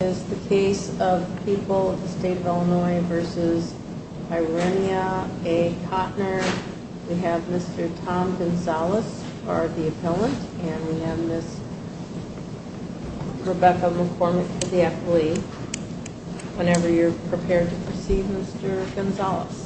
This is the case of People of the State of Illinois v. Irenia A. Cotner. We have Mr. Tom Gonzales, the appellant, and we have Ms. Rebecca McCormick, the appellee. Whenever you're prepared to proceed, Mr. Gonzales.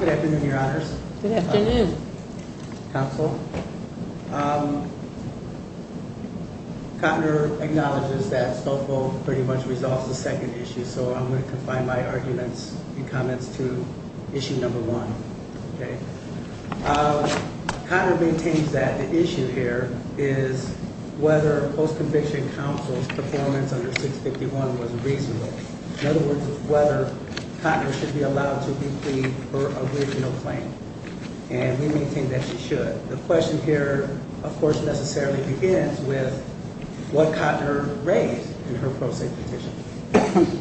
Good afternoon, Your Honors. Good afternoon. Thank you, Counsel. Cotner acknowledges that Spokal pretty much resolves the second issue, so I'm going to confine my arguments and comments to issue number one. Cotner maintains that the issue here is whether post-conviction counsel's performance under 651 was reasonable. In other words, whether Cotner should be allowed to declean her original claim. And we maintain that she should. The question here, of course, necessarily begins with what Cotner raised in her pro se petition.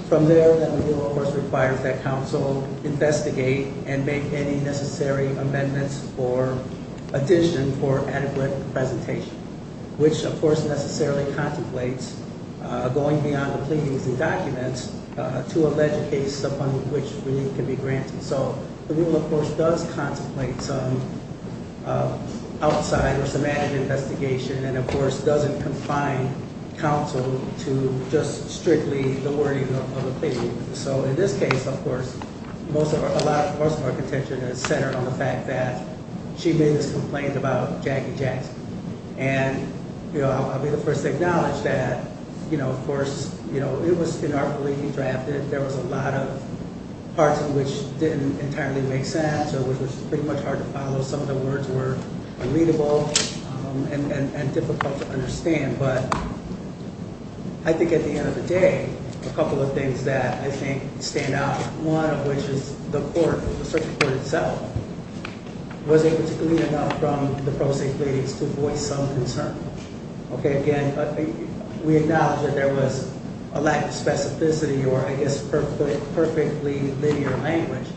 From there, the rule requires that counsel investigate and make any necessary amendments or additions for adequate presentation. Which, of course, necessarily contemplates going beyond the pleadings and documents to allege a case upon which relief can be granted. So, the rule, of course, does contemplate some outside or some added investigation. And, of course, doesn't confine counsel to just strictly the wording of a plea. So, in this case, of course, most of our contention is centered on the fact that she made this complaint about Jackie Jackson. And I'll be the first to acknowledge that, of course, it was inarticulately drafted. There was a lot of parts of which didn't entirely make sense or which was pretty much hard to follow. Some of the words were unreadable and difficult to understand. But I think at the end of the day, a couple of things that I think stand out. One of which is the court, the circuit court itself, was able to glean enough from the pro se pleadings to voice some concern. Okay, again, we acknowledge that there was a lack of specificity or I guess perfectly linear language.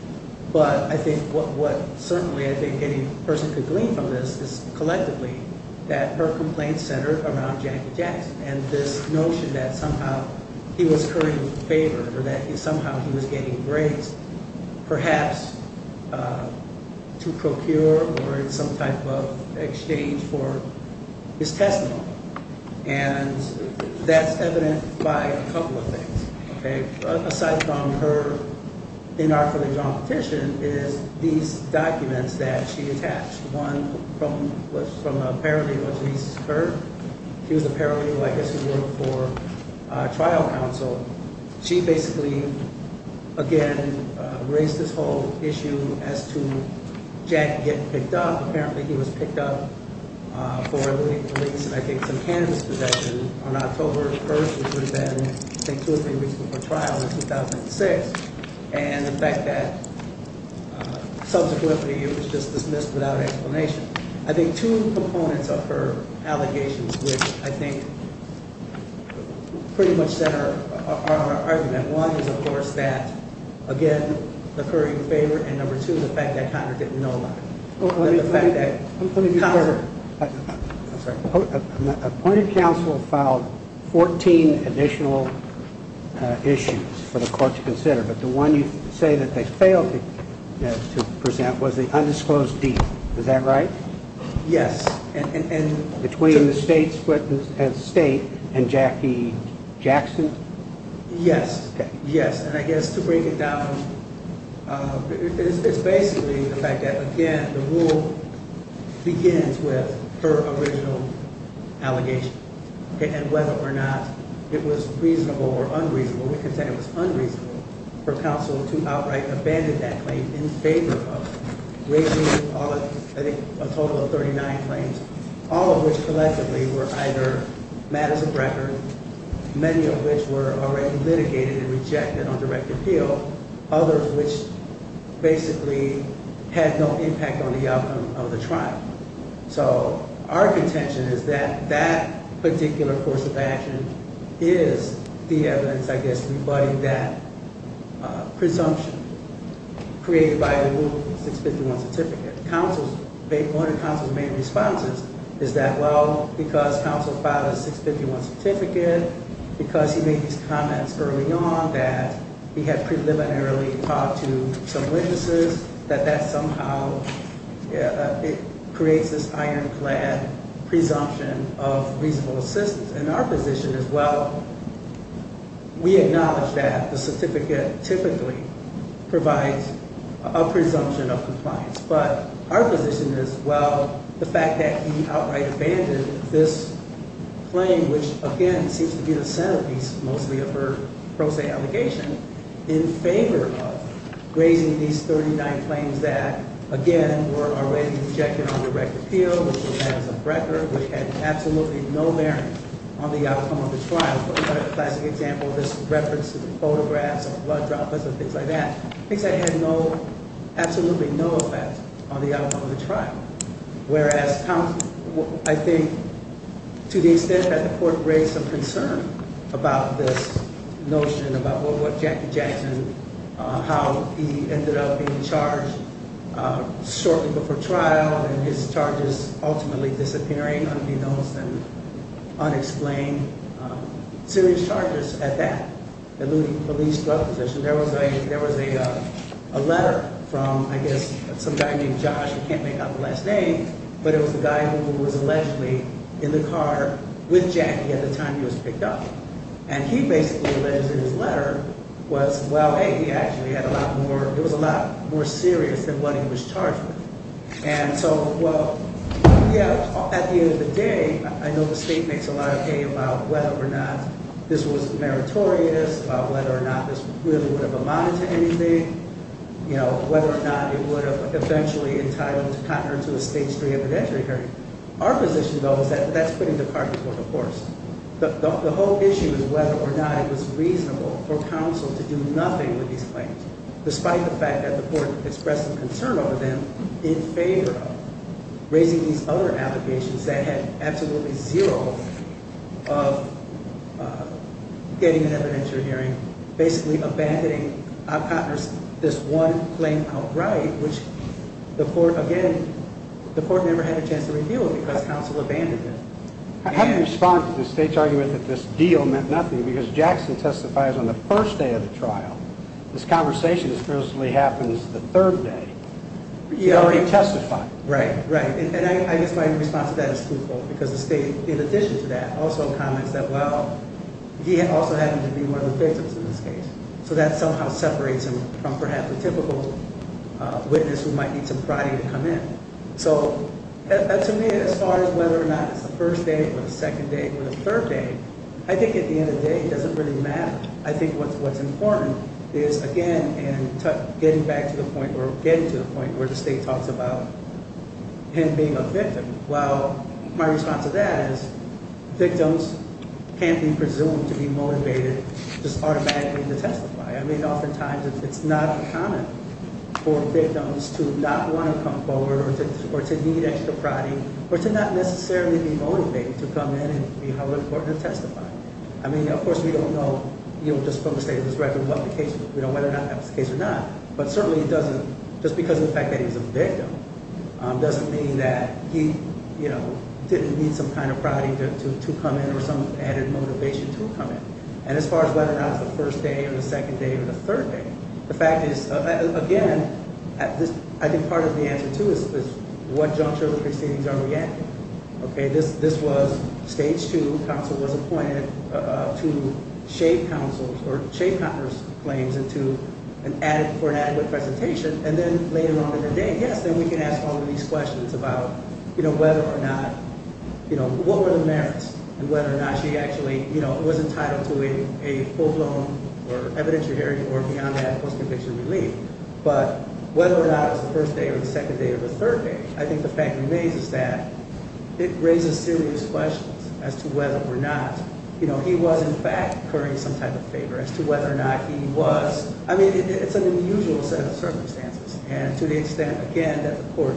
But I think what certainly I think any person could glean from this is collectively that her complaint centered around Jackie Jackson. And this notion that somehow he was currying favor or that somehow he was getting grades, perhaps to procure or in some type of exchange for his testimony. And that's evident by a couple of things. Okay, aside from her inarticulately drawn petition is these documents that she attached. One was from a paralegal, at least her. She was a paralegal, I guess, who worked for trial counsel. She basically, again, raised this whole issue as to Jack getting picked up. Apparently, he was picked up for eluding police and I think some cannabis possession on October 1st, which would have been, I think, two or three weeks before trial in 2006. And the fact that subsequently it was just dismissed without an explanation. I think two components of her allegations which I think pretty much center our argument. One is, of course, that again, the currying favor. And number two, the fact that Connor didn't know about it. Let me be clear. Appointed counsel filed 14 additional issues for the court to consider. But the one you say that they failed to present was the undisclosed deed. Is that right? Yes. Between the state and Jackie Jackson? Yes. Yes. And I guess to break it down, it's basically the fact that, again, the rule begins with her original allegation. And whether or not it was reasonable or unreasonable, we can say it was unreasonable for counsel to outright abandon that claim in favor of raising, I think, a total of 39 claims. All of which collectively were either matters of record. Many of which were already litigated and rejected on direct appeal. Others which basically had no impact on the outcome of the trial. So our contention is that that particular course of action is the evidence, I guess, rebutting that presumption created by the Rule 651 certificate. One of counsel's main responses is that, well, because counsel filed a 651 certificate, because he made these comments early on that he had preliminarily talked to some witnesses, that that somehow creates this ironclad presumption of reasonable assistance. And our position is, well, we acknowledge that the certificate typically provides a presumption of compliance. But our position is, well, the fact that he outright abandoned this claim, which, again, seems to be the centerpiece, mostly of her pro se allegation, in favor of raising these 39 claims that, again, were already rejected on direct appeal, which were matters of record, which had absolutely no bearing on the outcome of the trial. For a classic example, this reference to the photographs of blood droplets and things like that, things that had absolutely no effect on the outcome of the trial. Whereas, I think, to the extent that the court raised some concern about this notion, about what Jackie Jackson, how he ended up being charged shortly before trial, and his charges ultimately disappearing, unbeknownst and unexplained serious charges at that, eluding police drug possession, there was a letter from, I guess, some guy named Josh. I can't make out the last name. But it was the guy who was allegedly in the car with Jackie at the time he was picked up. And he basically alleged in his letter was, well, hey, he actually had a lot more, it was a lot more serious than what he was charged with. And so, well, yeah, at the end of the day, I know the state makes a lot of hay about whether or not this was meritorious, about whether or not this really would have amounted to anything, whether or not it would have eventually entitled the contender to a stage three evidentiary hearing. Our position, though, is that that's putting the cart before the horse. The whole issue is whether or not it was reasonable for counsel to do nothing with these claims, despite the fact that the court expressed some concern over them, in favor of raising these other allegations that had absolutely zero of getting an evidentiary hearing, basically abandoning this one claim outright, which the court, again, the court never had a chance to review it because counsel abandoned it. How do you respond to the state's argument that this deal meant nothing because Jackson testifies on the first day of the trial. This conversation is supposed to be happening the third day. He already testified. Right, right. And I guess my response to that is truthful because the state, in addition to that, also comments that, well, he also happened to be one of the victims in this case. So that somehow separates him from perhaps a typical witness who might need some priority to come in. So to me, as far as whether or not it's the first day or the second day or the third day, I think at the end of the day, it doesn't really matter. I think what's important is, again, getting back to the point, or getting to the point where the state talks about him being a victim. Well, my response to that is victims can't be presumed to be motivated just automatically to testify. I mean, oftentimes it's not common for victims to not want to come forward or to need extra priority or to not necessarily be motivated to come in and be held in court to testify. I mean, of course, we don't know just from the state of this record whether or not that was the case or not. But certainly it doesn't, just because of the fact that he's a victim, doesn't mean that he didn't need some kind of priority to come in or some added motivation to come in. And as far as whether or not it's the first day or the second day or the third day, the fact is, again, I think part of the answer, too, is what juncture of proceedings are we at? Okay, this was stage two. Counsel was appointed to shape counsel's or shape counselor's claims into an adequate presentation. And then later on in the day, yes, then we can ask all of these questions about whether or not, you know, what were the merits and whether or not she actually, you know, was entitled to a full-blown or evidentiary or beyond that post-conviction relief. But whether or not it was the first day or the second day or the third day, I think the fact remains is that it raises serious questions as to whether or not, you know, he was in fact occurring some type of favor as to whether or not he was. I mean, it's an unusual set of circumstances. And to the extent, again, that the court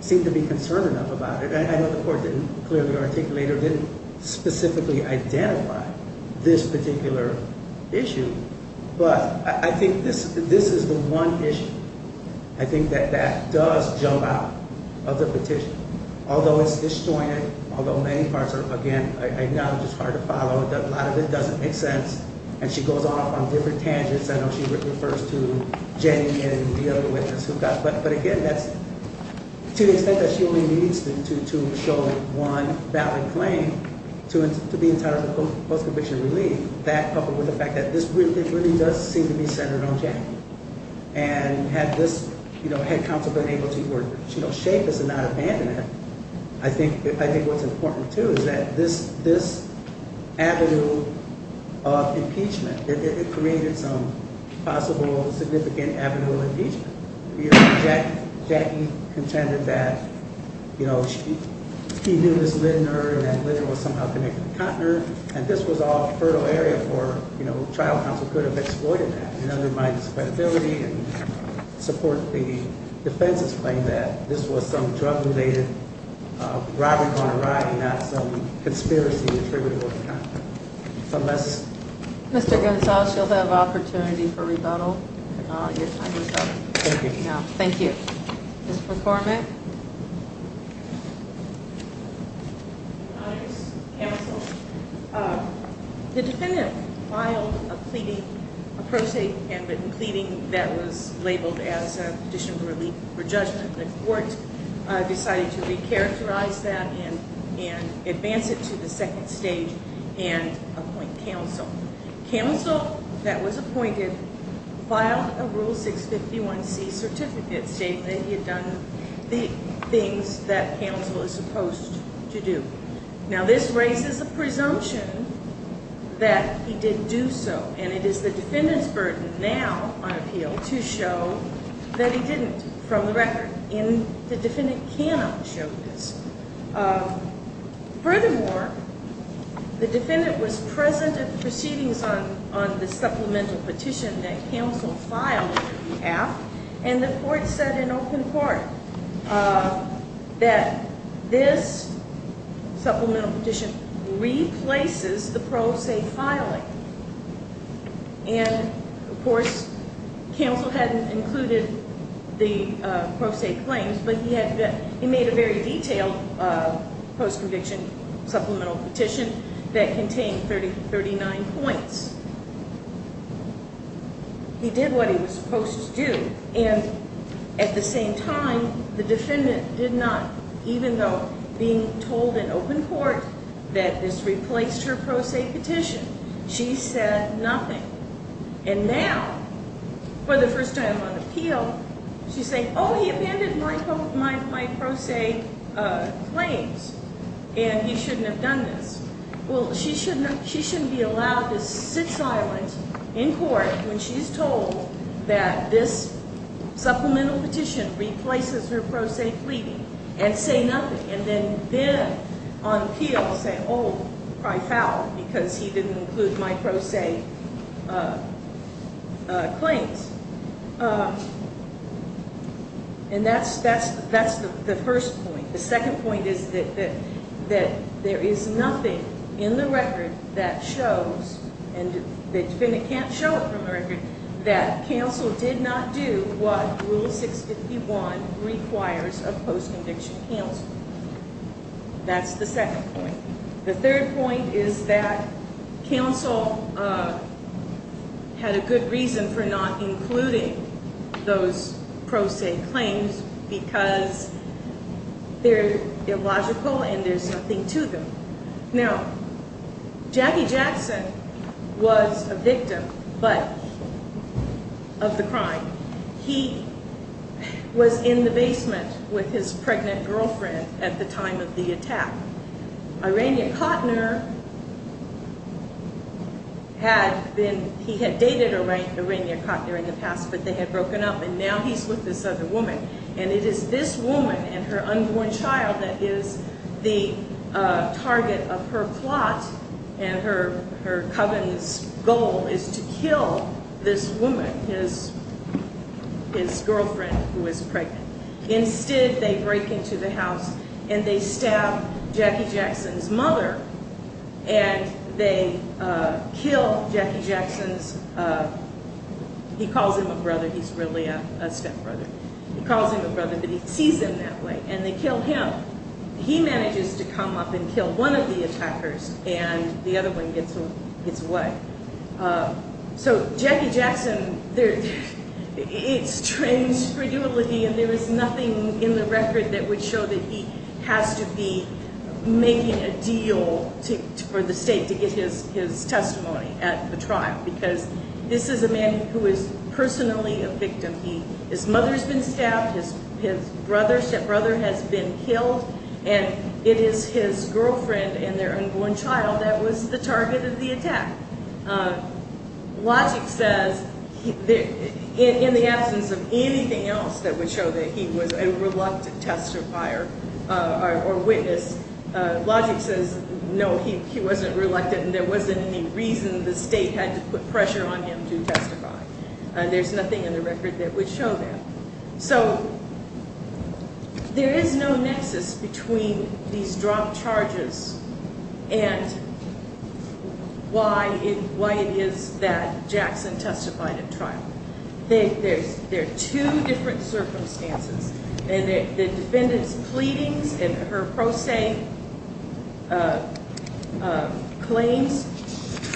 seemed to be concerned enough about it, I know the court didn't clearly articulate or didn't specifically identify this particular issue. But I think this is the one issue. I think that that does jump out of the petition. Although it's disjointed, although many parts are, again, I acknowledge it's hard to follow. A lot of it doesn't make sense. And she goes off on different tangents. I know she refers to Jenny and the other witness who got, but again, that's to the extent that she only needs to show one valid claim to be entitled to post-conviction relief. That coupled with the fact that this really does seem to be centered on Jenny. And had this, you know, had counsel been able to, you know, shape this and not abandon it, I think what's important, too, is that this avenue of impeachment, it created some possible significant avenue of impeachment. You know, Jackie contended that, you know, he knew Ms. Lindner, and that Lindner was somehow connected to Kottner. And this was all fertile area for, you know, trial counsel could have exploited that. And under my discredibility and support of the defense's claim that this was some drug-related robbery gone awry and not some conspiracy attributed to Kottner. So that's- Mr. Gonzales, you'll have opportunity for rebuttal. Your time is up. Thank you. Thank you. Ms. McCormick. Your Honors, counsel, the defendant filed a pleading, a pro se handwritten pleading that was labeled as a condition of relief for judgment. The court decided to recharacterize that and advance it to the second stage and appoint counsel. Counsel that was appointed filed a Rule 651C certificate stating that he had done the things that counsel is supposed to do. Now, this raises a presumption that he did do so. And it is the defendant's burden now on appeal to show that he didn't, from the record. And the defendant cannot show this. Furthermore, the defendant was present at the proceedings on the supplemental petition that counsel filed. And the court said in open court that this supplemental petition replaces the pro se filing. And, of course, counsel hadn't included the pro se claims, but he made a very detailed post-conviction supplemental petition that contained 39 points. He did what he was supposed to do. And at the same time, the defendant did not, even though being told in open court that this replaced her pro se petition, she said nothing. And now, for the first time on appeal, she's saying, oh, he abandoned my pro se claims and he shouldn't have done this. Well, she shouldn't be allowed to sit silent in court when she's told that this supplemental petition replaces her pro se pleading and say nothing. And then, on appeal, say, oh, I fouled because he didn't include my pro se claims. And that's the first point. The second point is that there is nothing in the record that shows, and the defendant can't show it from the record, that counsel did not do what Rule 651 requires of post-conviction counsel. That's the second point. The third point is that counsel had a good reason for not including those pro se claims because they're illogical and there's nothing to them. Now, Jackie Jackson was a victim, but, of the crime. He was in the basement with his pregnant girlfriend at the time of the attack. Irania Cotner had been, he had dated Irania Cotner in the past, but they had broken up and now he's with this other woman. And it is this woman and her unborn child that is the target of her plot and her coven's goal is to kill this woman, his girlfriend, who is pregnant. Instead, they break into the house and they stab Jackie Jackson's mother and they kill Jackie Jackson's, he calls him a brother. He's really a stepbrother. He calls him a brother, but he sees him that way and they kill him. He manages to come up and kill one of the attackers and the other one gets away. So, Jackie Jackson, it's strange credulity and there is nothing in the record that would show that he has to be making a deal for the state to get his testimony at the trial. Because this is a man who is personally a victim. His mother has been stabbed, his stepbrother has been killed, and it is his girlfriend and their unborn child that was the target of the attack. Logic says, in the absence of anything else that would show that he was a reluctant testifier or witness, Logic says, no, he wasn't reluctant and there wasn't any reason the state had to put pressure on him to testify. There's nothing in the record that would show that. So, there is no nexus between these dropped charges and why it is that Jackson testified at trial. There are two different circumstances. The defendant's pleadings and her pro se claims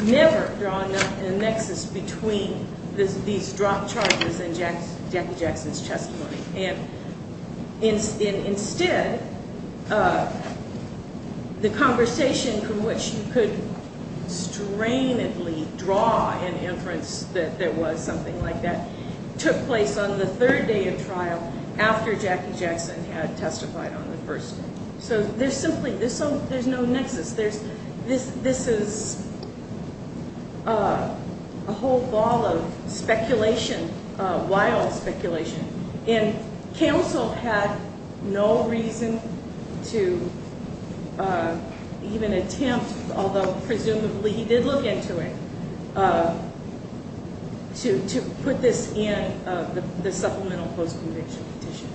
never draw a nexus between these dropped charges and Jackie Jackson's testimony. Instead, the conversation from which you could strainedly draw an inference that there was something like that took place on the third day of trial after Jackie Jackson had testified on the first day. So, there's simply no nexus. This is a whole ball of speculation, wild speculation. And counsel had no reason to even attempt, although presumably he did look into it, to put this in the supplemental post-conviction petition.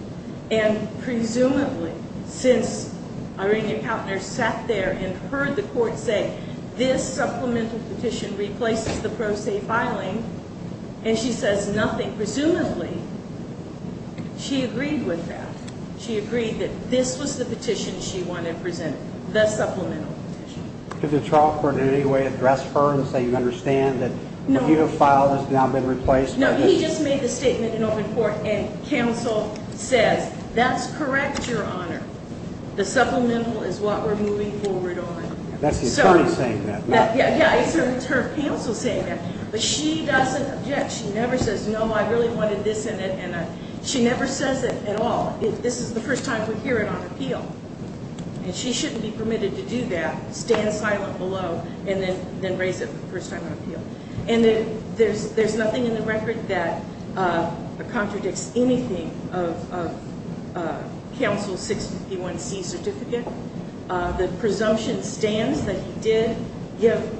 And presumably, since Irina Kautner sat there and heard the court say, this supplemental petition replaces the pro se filing, and she says nothing. Presumably, she agreed with that. She agreed that this was the petition she wanted presented, the supplemental petition. Did the trial court in any way address her and say, you understand that what you have filed has now been replaced? No, he just made the statement in open court, and counsel says, that's correct, Your Honor. The supplemental is what we're moving forward on. That's his son saying that, right? Yeah, it's her counsel saying that. But she doesn't object. She never says, no, I really wanted this in it. She never says it at all. This is the first time we hear it on appeal. And she shouldn't be permitted to do that, stand silent below, and then raise it for the first time on appeal. And there's nothing in the record that contradicts anything of counsel's 651C certificate. The presumption stands that he did give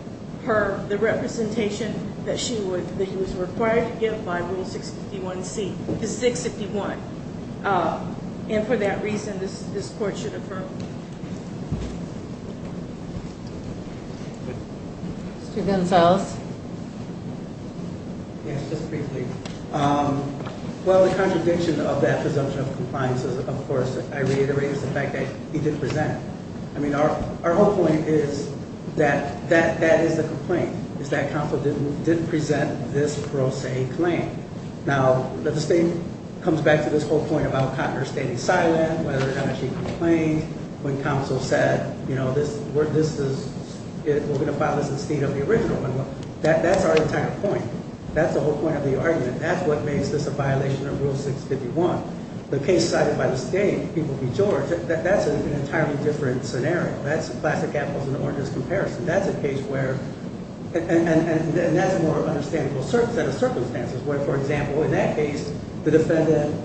her the representation that he was required to give by Rule 651C. This is 651. And for that reason, this court should affirm. Mr. Gonzalez? Yes, just briefly. Well, the contradiction of that presumption of compliance is, of course, I reiterate, is the fact that he didn't present it. I mean, our whole point is that that is the complaint, is that counsel didn't present this pro se claim. Now, the state comes back to this whole point about Cotner standing silent, whether or not she complained, when counsel said, you know, we're going to file this in the state of the original. That's our entire point. That's the whole point of the argument. That's what makes this a violation of Rule 651. The case cited by the state, People v. George, that's an entirely different scenario. That's classic apples and oranges comparison. That's a case where, and that's a more understandable set of circumstances, where, for example, in that case, the defendant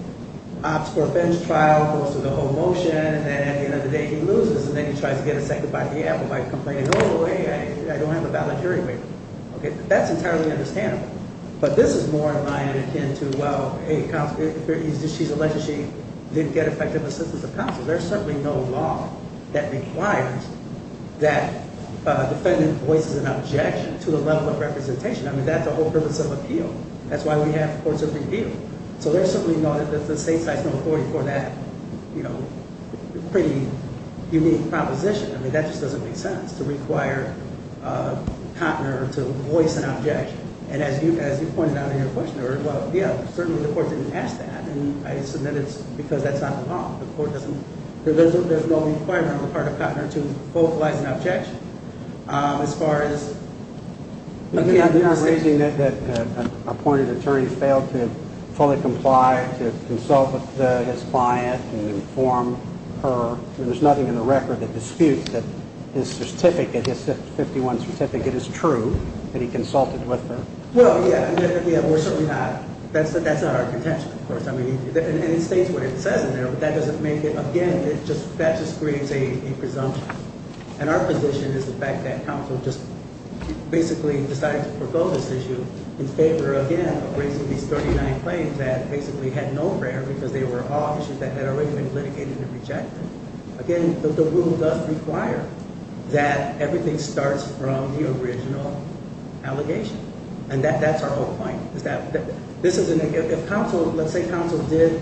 opts for a bench trial, goes through the whole motion, and then at the end of the day, he loses. And then he tries to get a second by the apple by complaining, oh, boy, I don't have a valid hearing waiver. Okay, that's entirely understandable. But this is more in line and akin to, well, hey, she's alleged she didn't get effective assistance of counsel. There's certainly no law that requires that a defendant voices an objection to a level of representation. I mean, that's the whole purpose of appeal. That's why we have courts of review. So there's certainly no, the state cites no authority for that, you know, pretty unique proposition. I mean, that just doesn't make sense, to require Cotner to voice an objection. And as you pointed out in your question earlier, well, yeah, certainly the court didn't ask that. And I submit it's because that's not the law. The court doesn't, there's no requirement on the part of Cotner to vocalize an objection. As far as- You're raising that an appointed attorney failed to fully comply to consult with his client and inform her. I mean, there's nothing in the record that disputes that his certificate, his 51 certificate is true, that he consulted with her. Well, yeah, we're certainly not. That's not our contention, of course. I mean, and it states what it says in there, but that doesn't make it, again, that just creates a presumption. And our position is the fact that counsel just basically decided to forego this issue in favor, again, of raising these 39 claims that basically had no prayer because they were all issues that had already been litigated and rejected. Again, the rule does require that everything starts from the original allegation. And that's our whole point. If counsel, let's say counsel did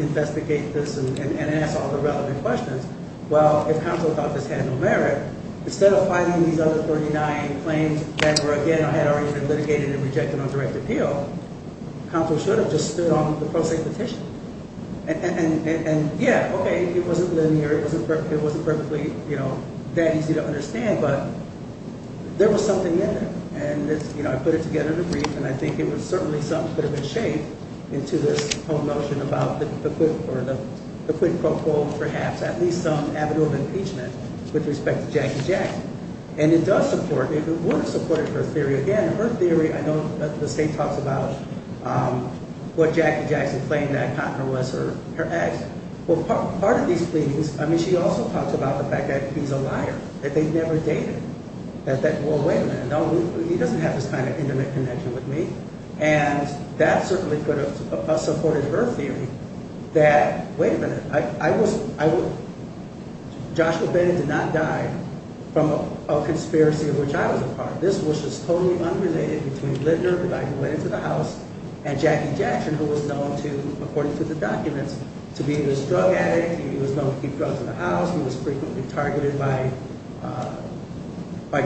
investigate this and ask all the relevant questions, well, if counsel thought this had no merit, instead of fighting these other 39 claims that were, again, had already been litigated and rejected on direct appeal, counsel should have just stood on the pro se petition. And yeah, okay, it wasn't linear. It wasn't perfectly, you know, that easy to understand, but there was something in there. And, you know, I put it together in a brief, and I think it was certainly something that could have been shaped into this whole notion about the quid pro quo, perhaps, at least some avenue of impeachment with respect to Jackie Jackson. And it does support, it would have supported her theory. Again, her theory, I know the state talks about what Jackie Jackson claimed that Conner was her ex. Well, part of these pleadings, I mean, she also talks about the fact that he's a liar, that they never dated. Well, wait a minute. No, he doesn't have this kind of intimate connection with me. And that certainly could have supported her theory that, wait a minute, Joshua Bennett did not die from a conspiracy of which I was a part. This was just totally unrelated between Lindner, the guy who went into the house, and Jackie Jackson, who was known to, according to the documents, to be this drug addict. He was known to keep drugs in the house. He was frequently targeted by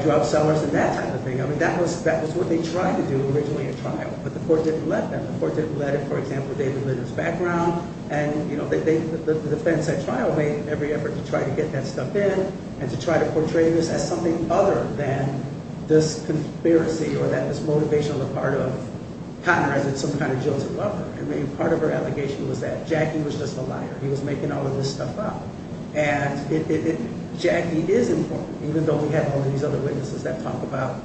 drug sellers and that type of thing. I mean, that was what they tried to do originally at trial, but the court didn't let them. The court didn't let it, for example, David Lindner's background. And, you know, the defense at trial made every effort to try to get that stuff in and to try to portray this as something other than this conspiracy or that this motivational part of Conner as some kind of jilted lover. He was making all of this stuff up. And Jackie is important, even though we have all of these other witnesses that talk about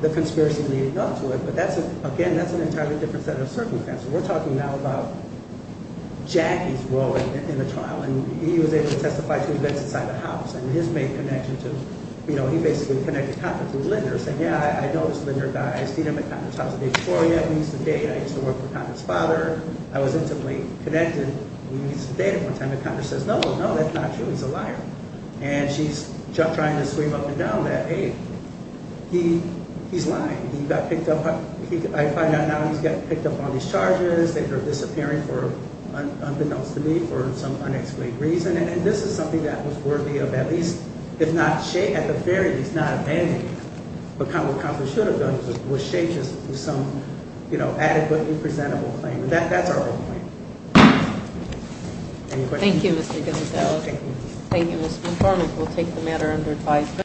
the conspiracy leading up to it. But that's, again, that's an entirely different set of circumstances. We're talking now about Jackie's role in the trial. And he was able to testify to events inside the house. And his main connection to, you know, he basically connected Conner to Lindner, saying, yeah, I know this Lindner guy. I've seen him at Conner's house a day before. We used to date. I used to work for Conner's father. I was intimately connected. And we used to date at one time. And Conner says, no, no, no, that's not true. He's a liar. And she's trying to scream up and down that, hey, he's lying. He got picked up. I find out now he's got picked up on these charges. They were disappearing for, unbeknownst to me, for some unexplained reason. And this is something that was worthy of at least, if not shame, at the very least, not abandoning him. But Conner accomplished what he should have done, which is some, you know, adequately presentable claim. That's our whole point. Any questions? Thank you, Mr. Gonzales. Thank you, Ms. Montgomery. We'll take the matter under advisory.